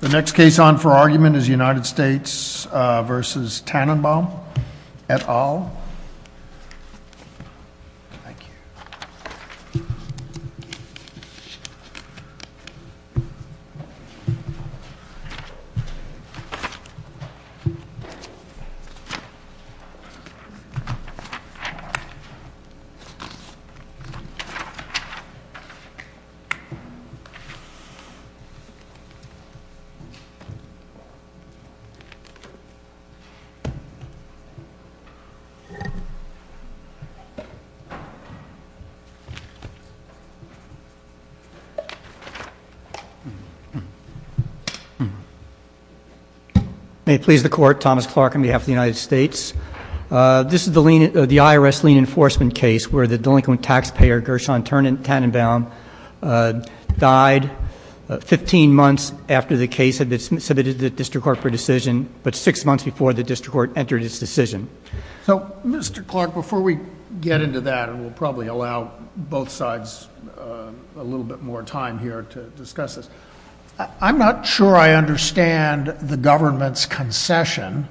The next case on for argument is United States versus Tannenbaum et al May it please the court, Thomas Clark on behalf of the United States. This is the IRS lien enforcement case where the delinquent taxpayer Gershon Tannenbaum died 15 months after the case had been submitted to the district court for decision, but six months before the district court entered its decision. So Mr. Clark, before we get into that, and we'll probably allow both sides a little bit more time here to discuss this, I'm not sure I understand the government's concession.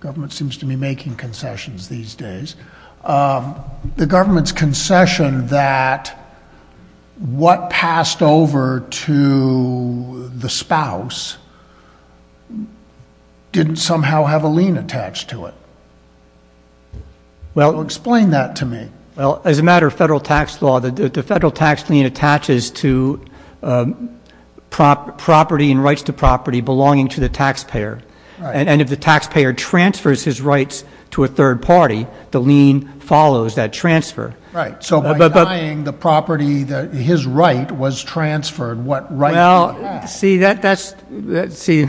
The government seems to be making concessions these days. The government's concession that what passed over to the spouse didn't somehow have a lien attached to it. Explain that to me. Well, as a matter of federal tax law, the federal tax lien attaches to property and if the taxpayer transfers his rights to a third party, the lien follows that transfer. Right. So by denying the property that his right was transferred, what right did he have? Well, see,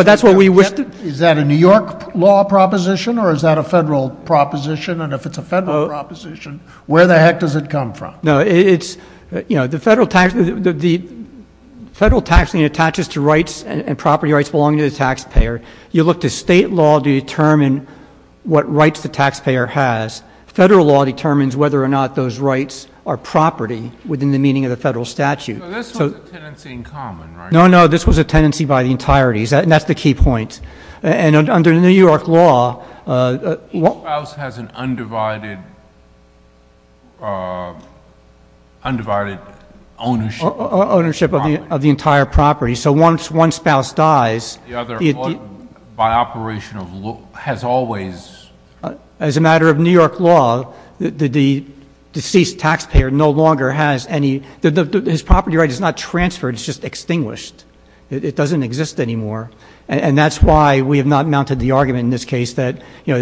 that's what we wish to — Is that a New York law proposition or is that a federal proposition? And if it's a federal proposition, where the heck does it come from? No, it's — you know, the federal tax — the federal tax lien attaches to rights and property rights belonging to the taxpayer. You look to state law to determine what rights the taxpayer has. Federal law determines whether or not those rights are property within the meaning of the federal statute. So this was a tenancy in common, right? No, no, this was a tenancy by the entirety, and that's the key point. And under New York law — A spouse has an undivided — undivided ownership. Ownership of the entire property. So once one spouse dies — The other, by operation of — has always — As a matter of New York law, the deceased taxpayer no longer has any — his property right is not transferred, it's just extinguished. It doesn't exist anymore. And that's why we have not mounted the argument in this case that, you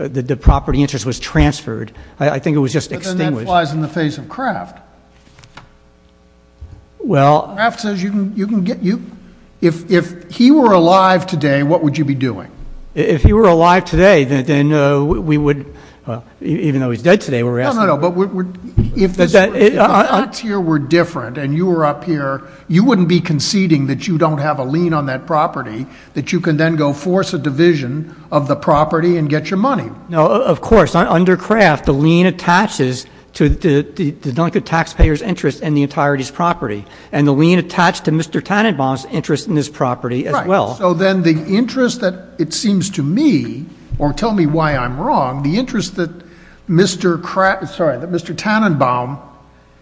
know, the property interest was transferred. I think it was just extinguished. But then that flies in the face of Kraft. Well — If he were alive today, what would you be doing? If he were alive today, then we would — even though he's dead today, we're asking — No, no, no, but if the facts here were different and you were up here, you wouldn't be conceding that you don't have a lien on that property, that you can then go force a division of the property and get your money. No, of course. Under Kraft, the lien attaches to the taxpayer's interest and the entirety's property. And the lien attached to Mr. Tannenbaum's interest in this property as well. Right. So then the interest that it seems to me — or tell me why I'm wrong — the interest that Mr. Kraft — sorry, that Mr. Tannenbaum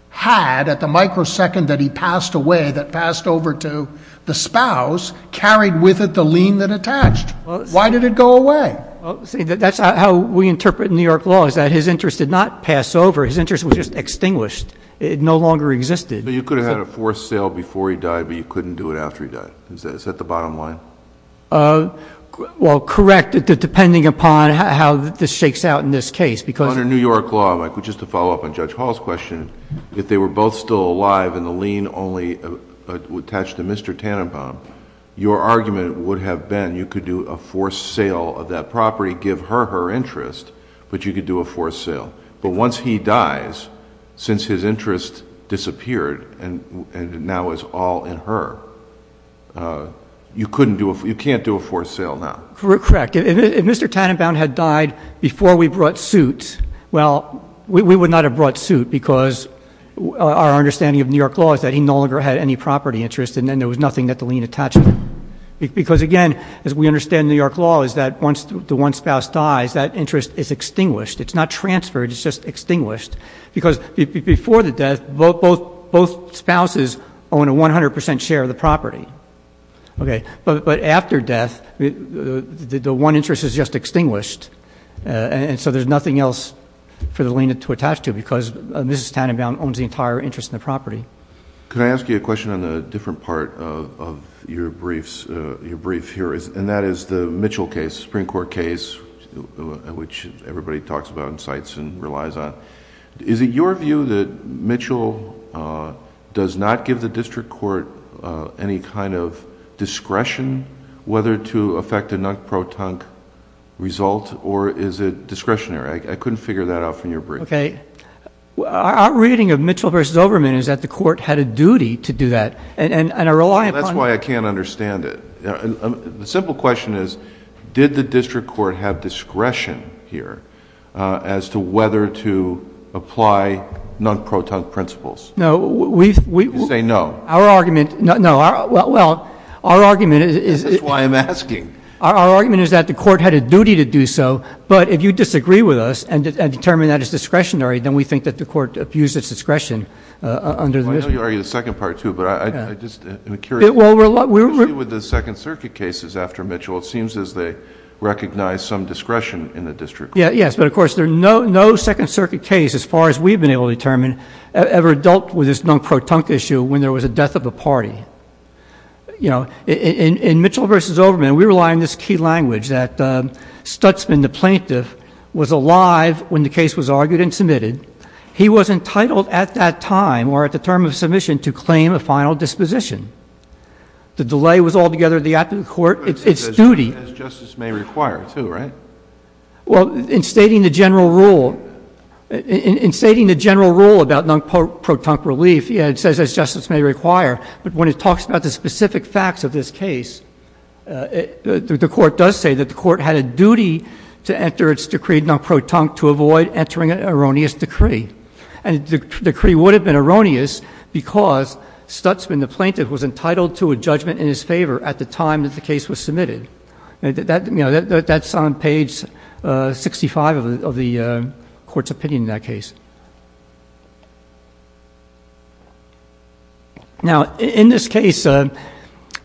had at the microsecond that he passed away, that passed over to the spouse, carried with it the lien that attached. Why did it go away? Well, see, that's how we interpret New York law, is that his interest did not pass over. His interest was just extinguished. It no longer existed. But you could have had a forced sale before he died, but you couldn't do it after he died. Is that the bottom line? Well, correct, depending upon how this shakes out in this case, because — Under New York law, Mike, just to follow up on Judge Hall's question, if they were both still alive and the lien only attached to Mr. Tannenbaum, your argument would have been you could do a forced sale of that property, give her her interest, but you could do a forced sale. But once he dies, since his interest disappeared and now is all in her, you can't do a forced sale now. Correct. If Mr. Tannenbaum had died before we brought suit, well, we would not have brought suit because our understanding of New York law is that he no longer had any property interest and then there was nothing that the lien attached to. Because again, as we understand New York law, is that once the one spouse dies, that interest is extinguished. It's not transferred, it's just extinguished. Because before the death, both spouses own a 100 percent share of the property. But after death, the one interest is just extinguished, and so there's nothing else for the lien to attach to because Mrs. Tannenbaum owns the entire interest in the property. Could I ask you a question on a different part of your brief here? That is the Mitchell case, Supreme Court case, which everybody talks about and cites and relies on. Is it your view that Mitchell does not give the district court any kind of discretion whether to affect a non-pro-tunk result or is it discretionary? I couldn't figure that out from your brief. Okay. Our reading of Mitchell v. Overman is that the court had a duty to do that and I rely upon... Well, that's why I can't understand it. The simple question is, did the district court have discretion here as to whether to apply non-pro-tunk principles? No, we... You say no. Our argument... No. Well, our argument... This is why I'm asking. Our argument is that the court had a duty to do so, but if you disagree with us and under the... I know you argue the second part, too, but I just am curious... Well, we're...... with the Second Circuit cases after Mitchell, it seems as they recognize some discretion in the district court. Yes, but of course, there's no Second Circuit case as far as we've been able to determine ever dealt with this non-pro-tunk issue when there was a death of a party. In Mitchell v. Overman, we rely on this key language that Stutzman, the plaintiff, was alive when the case was argued and submitted. He was entitled at that time or at the term of submission to claim a final disposition. The delay was altogether the aptitude of the court, its duty... As justice may require, too, right? Well, in stating the general rule about non-pro-tunk relief, yes, it says as justice may require, but when it talks about the specific facts of this case, the court does say that the And the decree would have been erroneous because Stutzman, the plaintiff, was entitled to a judgment in his favor at the time that the case was submitted. That's on page 65 of the court's opinion in that case. Now in this case, the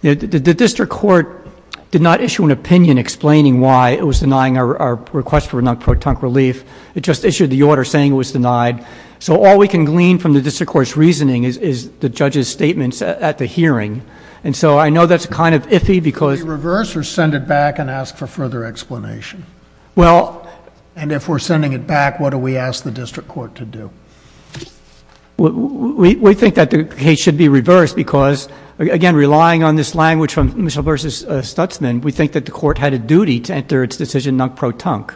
district court did not issue an opinion explaining why it was denying our request for non-pro-tunk relief. It just issued the order saying it was denied. So all we can glean from the district court's reasoning is the judge's statements at the hearing. And so I know that's kind of iffy because... Should we reverse or send it back and ask for further explanation? Well... And if we're sending it back, what do we ask the district court to do? We think that the case should be reversed because, again, relying on this language from Mitchell v. Stutzman, we think that the court had a duty to enter its decision non-pro-tunk.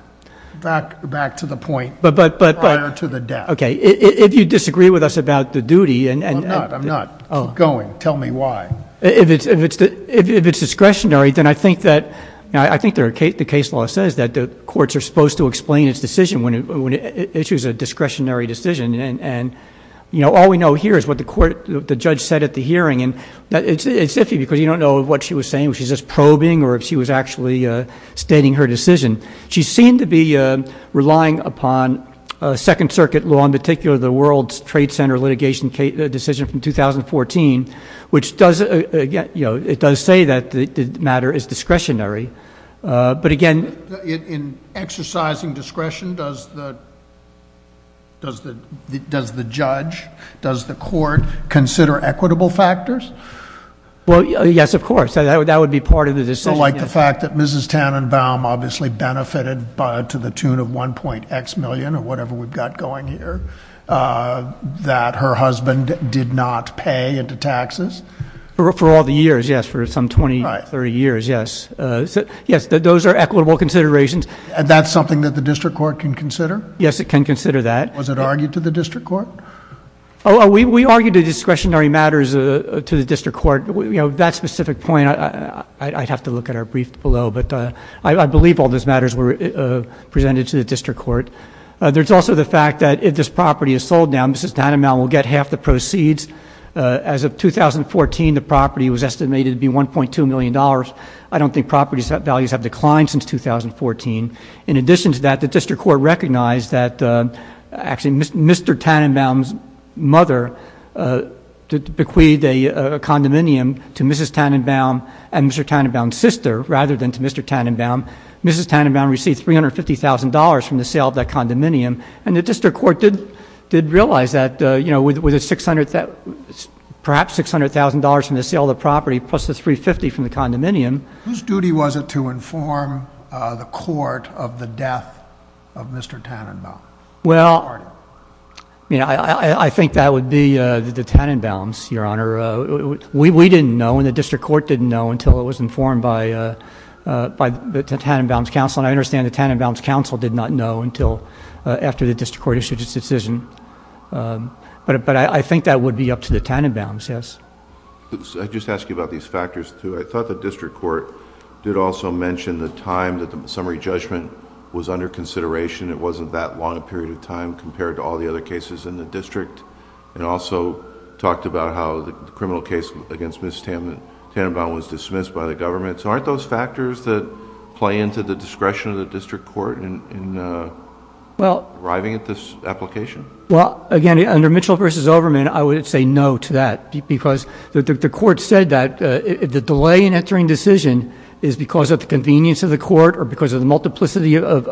Back to the point prior to the death. Okay. If you disagree with us about the duty... I'm not. I'm not. Keep going. Tell me why. If it's discretionary, then I think that... I think the case law says that the courts are supposed to explain its decision when it issues a discretionary decision. And all we know here is what the judge said at the hearing. And it's iffy because you don't know what she was saying, if she was just probing or if she was actually stating her decision. She seemed to be relying upon Second Circuit law, in particular the World Trade Center litigation decision from 2014, which does... it does say that the matter is discretionary. But again... In exercising discretion, does the judge, does the court consider equitable factors? Well, yes, of course. That would be part of the decision. So like the fact that Mrs. Tannenbaum obviously benefited to the tune of one point X million or whatever we've got going here, that her husband did not pay into taxes? For all the years, yes. For some twenty, thirty years, yes. Yes, those are equitable considerations. And that's something that the district court can consider? Yes, it can consider that. Was it argued to the district court? We argued a discretionary matters to the district court. That specific point, I'd have to look at our brief below, but I believe all those matters were presented to the district court. There's also the fact that if this property is sold now, Mrs. Tannenbaum will get half the proceeds. As of 2014, the property was estimated to be $1.2 million. I don't think property values have declined since 2014. In addition to that, the district court recognized that actually Mr. Tannenbaum's father bequeathed a condominium to Mrs. Tannenbaum and Mr. Tannenbaum's sister rather than to Mr. Tannenbaum. Mrs. Tannenbaum received $350,000 from the sale of that condominium. And the district court did realize that with perhaps $600,000 from the sale of the property plus the $350,000 from the condominium... Whose duty was it to inform the court of the death of Mr. Tannenbaum? Well, I think that would be the Tannenbaum's, Your Honor. We didn't know and the district court didn't know until it was informed by the Tannenbaum's counsel and I understand the Tannenbaum's counsel did not know until after the district court issued its decision. But I think that would be up to the Tannenbaum's, yes. I'd just ask you about these factors too. I thought the district court did also mention the time that the summary judgment was under consideration. It wasn't that long a period of time compared to all the other cases in the district and also talked about how the criminal case against Mrs. Tannenbaum was dismissed by the government. So aren't those factors that play into the discretion of the district court in arriving at this application? Well, again, under Mitchell v. Overman, I would say no to that because the court said that the delay in entering decision is because of the convenience of the court or because of the multiplicity of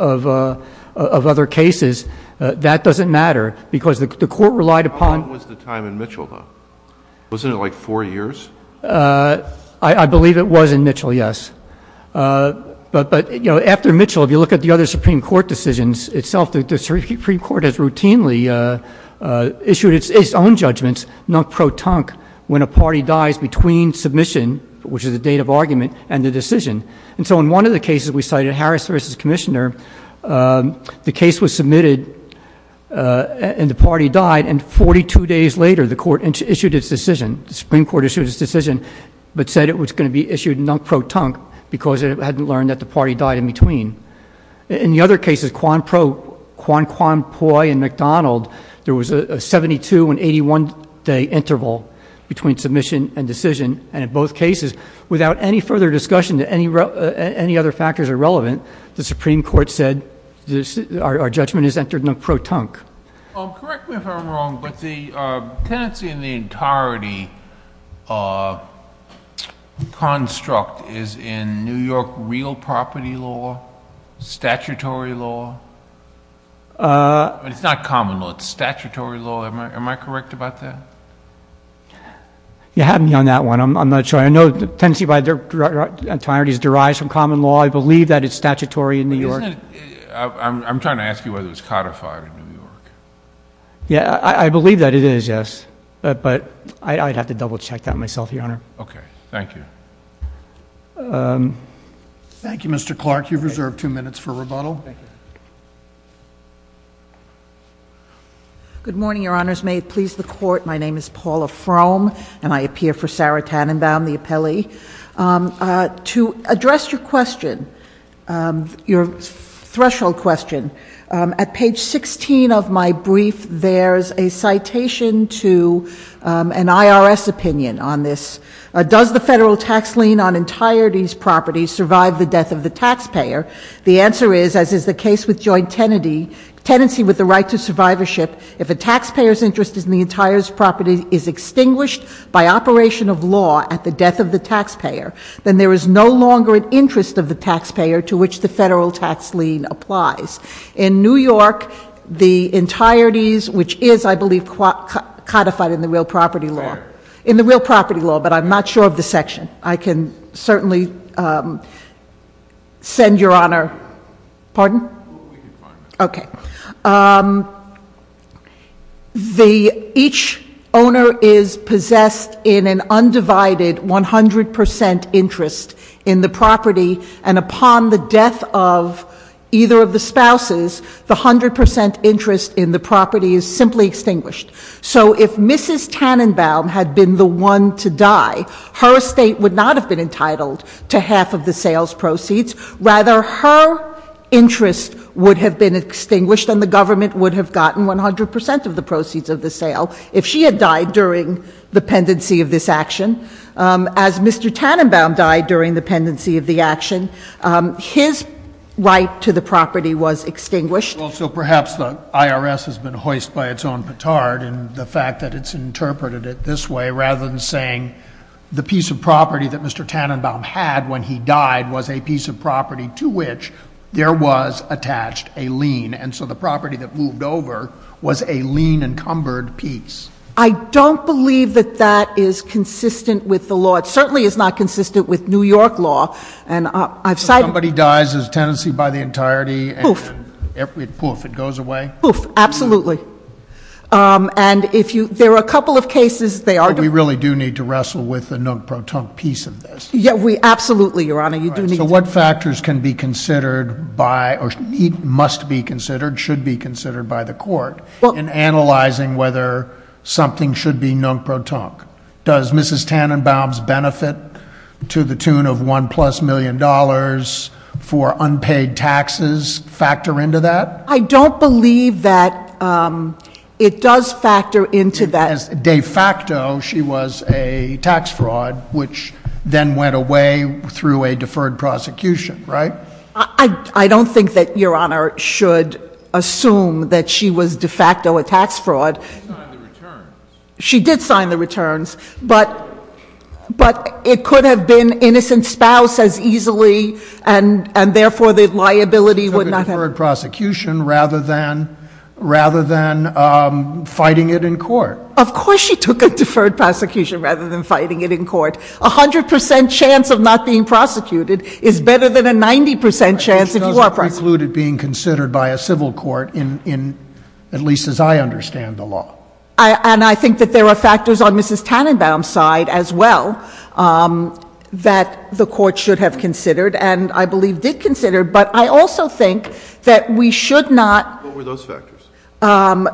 other cases. That doesn't matter because the court relied upon- How long was the time in Mitchell though? Wasn't it like four years? I believe it was in Mitchell, yes. But after Mitchell, if you look at the other Supreme Court decisions itself, the Supreme Court has routinely issued its own judgments, non-pro-tunk, when a party dies between submission, which is the date of argument, and the decision. And so in one of the cases we cited, Harris v. Commissioner, the case was submitted and the party died, and 42 days later the Supreme Court issued its decision but said it was going to be issued non-pro-tunk because it hadn't learned that the party died in between. In the other cases, Quan Pui and McDonald, there was a 72 and 81 day interval between submission and decision, and in both cases, without any further discussion that any other factors are relevant, the Supreme Court said our judgment is entered non-pro-tunk. Correct me if I'm wrong, but the tenancy in the entirety construct is in New York real property law, statutory law? It's not common law, it's statutory law. Am I correct about that? You had me on that one, I'm not sure. I know the tenancy by its entirety is derived from common law, I believe that it's statutory in New York. I'm trying to ask you whether it's codified in New York. Yeah, I believe that it is, yes. But I'd have to double check that myself, Your Honor. Okay, thank you. Thank you, Mr. Clark. You've reserved two minutes for rebuttal. Thank you. Good morning, Your Honors. May it please the Court. My name is Paula Frome, and I appear for Sarah Tannenbaum, the appellee. To address your question, your threshold question, at page 16 of my brief, there's a citation to an IRS opinion on this. Does the federal tax lien on entirety's property survive the death of the taxpayer? The answer is, as is the case with joint tenancy, tenancy with the right to survivorship, if a taxpayer's interest in the entire property is extinguished by operation of law at the death of the taxpayer, then there is no longer an interest of the taxpayer to which the federal tax lien applies. In New York, the entirety's, which is, I believe, codified in the real property law. Right. In the real property law, but I'm not sure of the section. I can certainly send your honor, pardon? We can find it. Okay. Each owner is possessed in an undivided 100% interest in the property, and upon the death of either of the spouses, the 100% interest in the property is simply extinguished. So if Mrs. Tannenbaum had been the one to die, her estate would not have been entitled to half of the sales proceeds. Rather, her interest would have been extinguished and the government would have gotten 100% of the proceeds of the sale if she had died during the pendency of this action. As Mr. Tannenbaum died during the pendency of the action, his right to the property was extinguished. Well, so perhaps the IRS has been hoist by its own petard in the fact that it's interpreted it this way, rather than saying the piece of property that Mr. Tannenbaum had when he died was a piece of property to which there was attached a lien, and so the property that moved over was a lien encumbered piece. I don't believe that that is consistent with the law. It certainly is not consistent with New York law, and I've cited- If somebody dies as a tenancy by the entirety- Poof. Poof, it goes away? Poof, absolutely. And if you, there are a couple of cases they are- But we really do need to wrestle with the non-proton piece of this. Yeah, we absolutely, Your Honor, you do need to- So what factors can be considered by, or must be considered, should be considered by the court in analyzing whether something should be non-proton? Does Mrs. Tannenbaum's benefit to the tune of one plus million dollars for unpaid taxes factor into that? I don't believe that it does factor into that- As de facto, she was a tax fraud, which then went away through a deferred prosecution, right? I don't think that Your Honor should assume that she was de facto a tax fraud. She signed the returns. But it could have been innocent spouse as easily, and therefore the liability would not have- She took a deferred prosecution rather than fighting it in court. Of course she took a deferred prosecution rather than fighting it in court. A 100% chance of not being prosecuted is better than a 90% chance if you are prosecuted. Which doesn't preclude it being considered by a civil court, at least as I understand the law. And I think that there are factors on Mrs. Tannenbaum's side as well that the court should have considered, and I believe did consider, but I also think that we should not- What were those factors? Her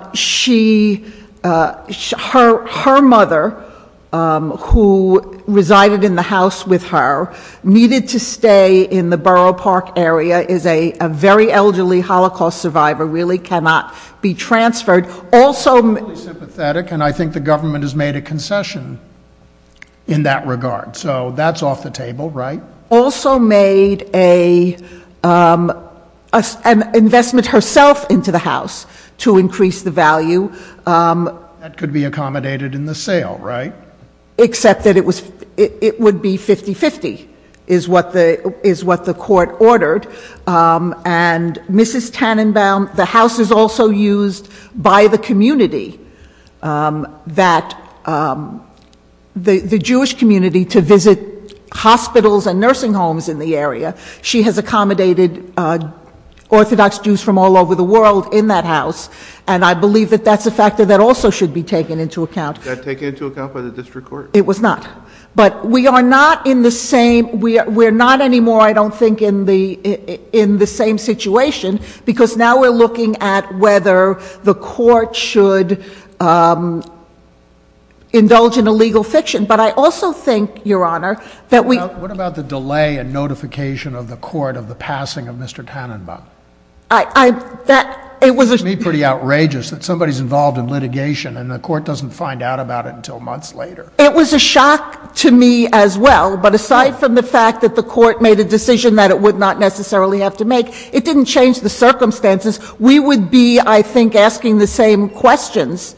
mother, who resided in the house with her, needed to stay in the Borough Park area, is a very elderly Holocaust survivor, really cannot be transferred. Also- Totally sympathetic, and I think the government has made a concession in that regard. So that's off the table, right? Also made an investment herself into the house to increase the value. That could be accommodated in the sale, right? Except that it would be 50-50, is what the court ordered. And Mrs. Tannenbaum, the house is also used by the community, the Jewish community, to visit hospitals and nursing homes in the area. She has accommodated Orthodox Jews from all over the world in that house, and I believe that that's a factor that also should be taken into account. Was that taken into account by the district court? It was not. But we are not in the same- We're not anymore, I don't think, in the same situation, because now we're looking at whether the court should indulge in illegal fiction. But I also think, Your Honor, that we- What about the delay and notification of the court of the passing of Mr. Tannenbaum? I- It was- It's pretty outrageous that somebody's involved in litigation and the court doesn't find out about it until months later. It was a shock to me as well, but aside from the fact that the court made a decision that it would not necessarily have to make, it didn't change the circumstances. We would be, I think, asking the same questions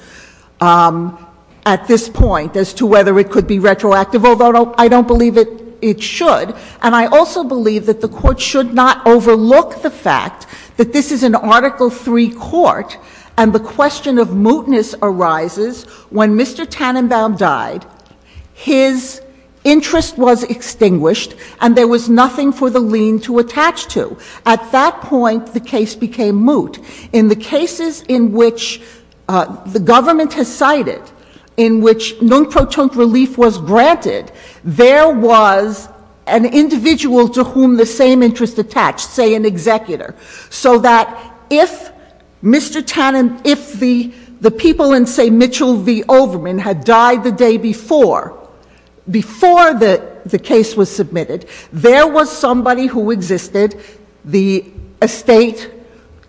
at this point as to whether it could be retroactive, although I don't believe it should. And I also believe that the court should not overlook the fact that this is an Article III court and the question of mootness arises when Mr. Tannenbaum died, his interest was extinguished, and there was nothing for the lien to attach to. At that point, the case became moot. In the cases in which the government has cited, in which non-protont relief was granted, there was an individual to whom the same interest attached, say, an executor, so that if Mr. Tannen... If the people in, say, Mitchell v. Overman had died the day before, before the case was submitted, there was somebody who existed, the estate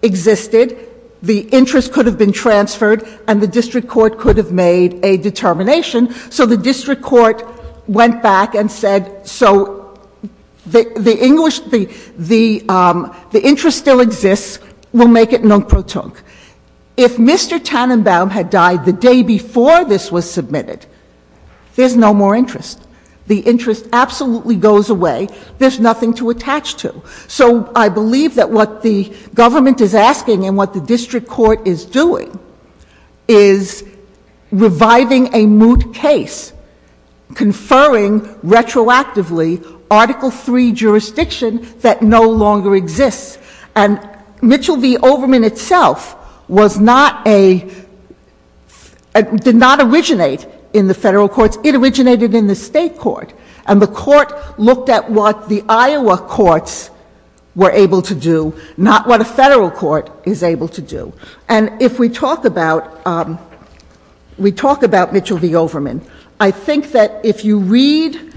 existed, the interest could have been transferred and the district court could have made a determination. So the district court went back and said, so the interest still exists, we'll make it non-protont. If Mr. Tannenbaum had died the day before this was submitted, there's no more interest. The interest absolutely goes away, there's nothing to attach to. So I believe that what the government is asking and what the district court is doing is reviving a moot case, conferring retroactively Article III jurisdiction that no longer exists. And Mitchell v. Overman itself was not a... did not originate in the federal courts, it originated in the state court. And the court looked at what the Iowa courts were able to do, not what a federal court is able to do. And if we talk about... We talk about Mitchell v. Overman. I think that if you read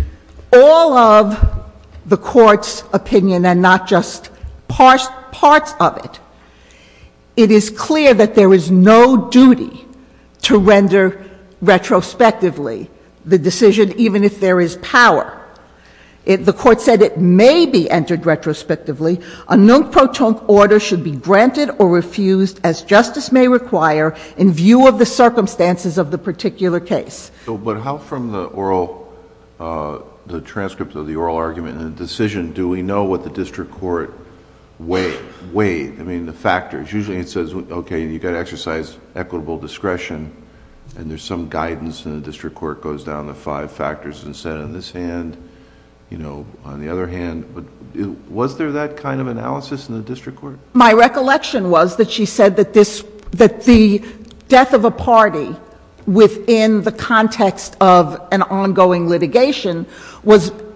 all of the court's opinion and not just parts of it, it is clear that there is no duty to render retrospectively the decision, even if there is power. The court said it may be entered retrospectively. A non-protont order should be granted or refused, as justice may require, in view of the circumstances of the particular case. But how, from the oral... the transcript of the oral argument and the decision, do we know what the district court weighed? I mean, the factors. Usually it says, okay, you got to exercise equitable discretion, and there's some guidance, and the district court goes down the five factors and said, on this hand, you know, on the other hand. Was there that kind of analysis in the district court? My recollection was that she said that this... within the context of an ongoing litigation was...with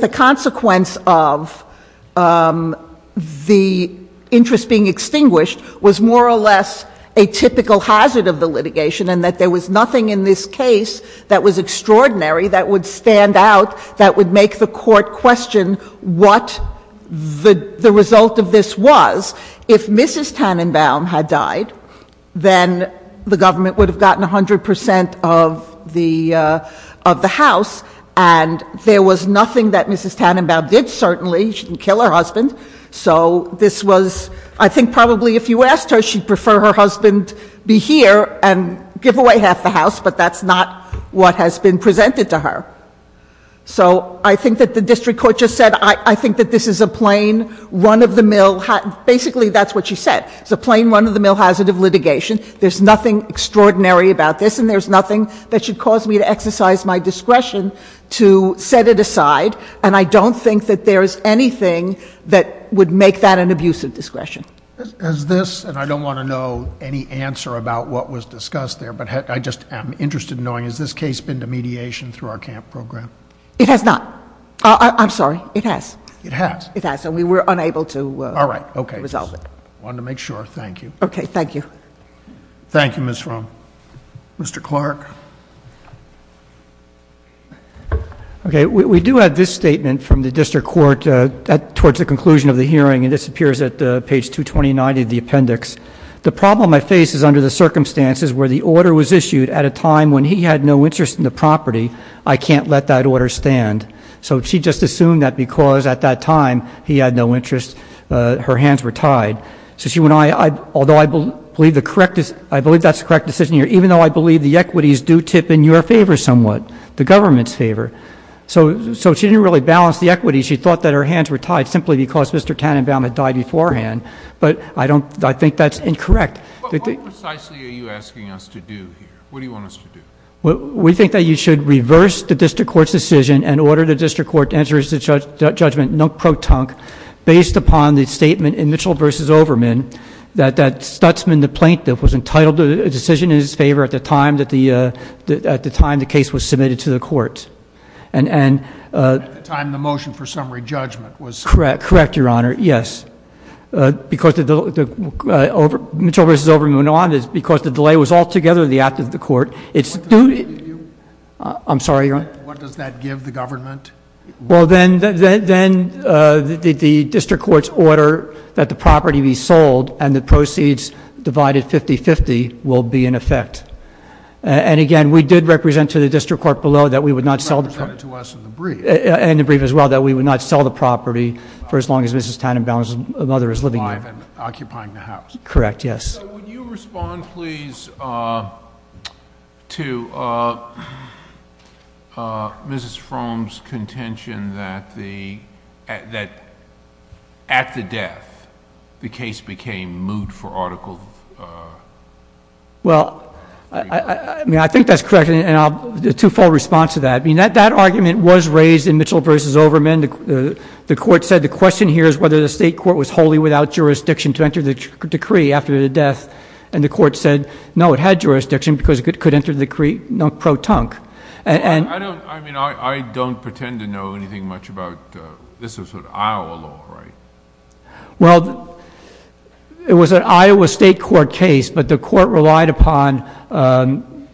the consequence of the interest being extinguished, was more or less a typical hazard of the litigation, and that there was nothing in this case that was extraordinary that would stand out, that would make the court question what the result of this was. If Mrs. Tannenbaum had died, then the government would have gotten 100% of the... of the house, and there was nothing that Mrs. Tannenbaum did, certainly. She didn't kill her husband. So this was... I think probably if you asked her, she'd prefer her husband be here and give away half the house, but that's not what has been presented to her. So I think that the district court just said, I think that this is a plain run-of-the-mill... Basically, that's what she said. It's a plain run-of-the-mill hazard of litigation. There's nothing extraordinary about this, and there's nothing that should cause me to exercise my discretion to set it aside, and I don't think that there is anything that would make that an abuse of discretion. Has this...and I don't want to know any answer about what was discussed there, but I just am interested in knowing, has this case been to mediation through our CAMP program? It has not. I'm sorry, it has. It has? It has, and we were unable to resolve it. All right, okay. Resolved it. Wanted to make sure. Thank you. Okay, thank you. Thank you, Ms. Fromm. Mr. Clark. Okay, we do have this statement from the district court towards the conclusion of the hearing, and this appears at page 229 of the appendix. The problem I face is under the circumstances where the order was issued at a time when he had no interest in the property. I can't let that order stand. So she just assumed that because at that time he had no interest, her hands were tied. So she went...although I believe the correct... I believe that's the correct decision here, even though I believe the equities do tip in your favor somewhat, the government's favor. So she didn't really balance the equities. She thought that her hands were tied simply because Mr. Tannenbaum had died beforehand, but I don't...I think that's incorrect. What precisely are you asking us to do here? What do you want us to do? We think that you should reverse the district court's decision and order the district court to enter into judgment non pro tonque based upon the statement in Mitchell v. Overman that Stutzman, the plaintiff, was entitled to a decision in his favor at the time that the, uh... at the time the case was submitted to the court. And, uh... At the time the motion for summary judgment was... Correct, correct, Your Honor, yes. Because the... Mitchell v. Overman went on because the delay was altogether the act of the court. It's... I'm sorry, Your Honor? What does that give the government? Well, then... the district court's order that the property be sold and the proceeds divided 50-50 will be in effect. And again, we did represent to the district court below that we would not sell... And the brief as well, that we would not sell the property for as long as Mrs. Tannenbaum's mother is living there. Occupying the house. Correct, yes. Would you respond, please, uh... to, uh... Mrs. Fromm's contention that the... that at the death the case became moot for article... Well, I mean, I think that's correct and I'll... the two-fold response to that. That argument was raised in Mitchell v. Overman. The court said the question here is whether the state court was wholly without jurisdiction to enter the decree after the death and the court said, no, it had jurisdiction because it could enter the decree pro-tunc. I don't... I mean, I don't pretend to know anything much about... This is Iowa law, right? Well, it was an Iowa state court case but the court relied upon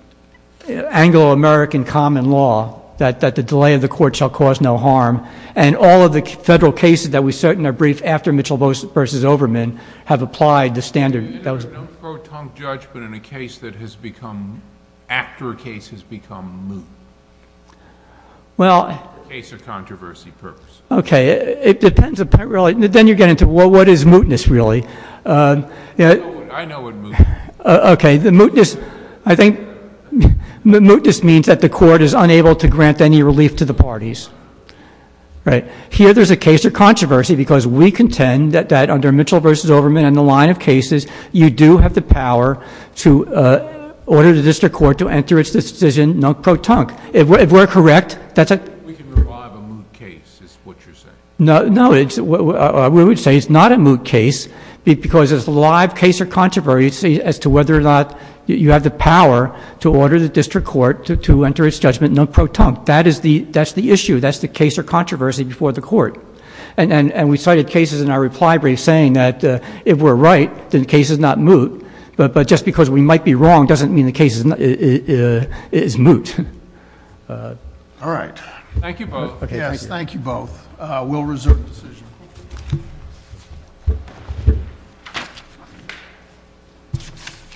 Anglo-American common law that the delay of the court shall cause no harm and all of the federal cases that we cert in our brief after Mitchell v. Overman have applied the standard that was... No pro-tunc judgment in a case that has become... after a case has become moot. Well... A case of controversy purpose. Okay, it depends... Then you get into what is mootness, really? Uh... I know what mootness is. Okay, the mootness... I think mootness means that the court is unable to grant any relief to the parties. Right. Here, there's a case of controversy because we contend that under Mitchell v. Overman and the line of cases, you do have the power to order the district court to enter its decision non pro-tunc. If we're correct, that's a... We can revive a moot case, is what you're saying. No, no. We would say it's not a moot case because it's a live case of controversy as to whether or not you have the power to order the district court to enter its judgment non pro-tunc. That's the issue. That's the case of controversy before the court. And we cited cases in our reply brief saying that if we're right, then the case is not moot. But just because we might be wrong doesn't mean the case is moot. All right. Thank you both. We'll reserve the decision.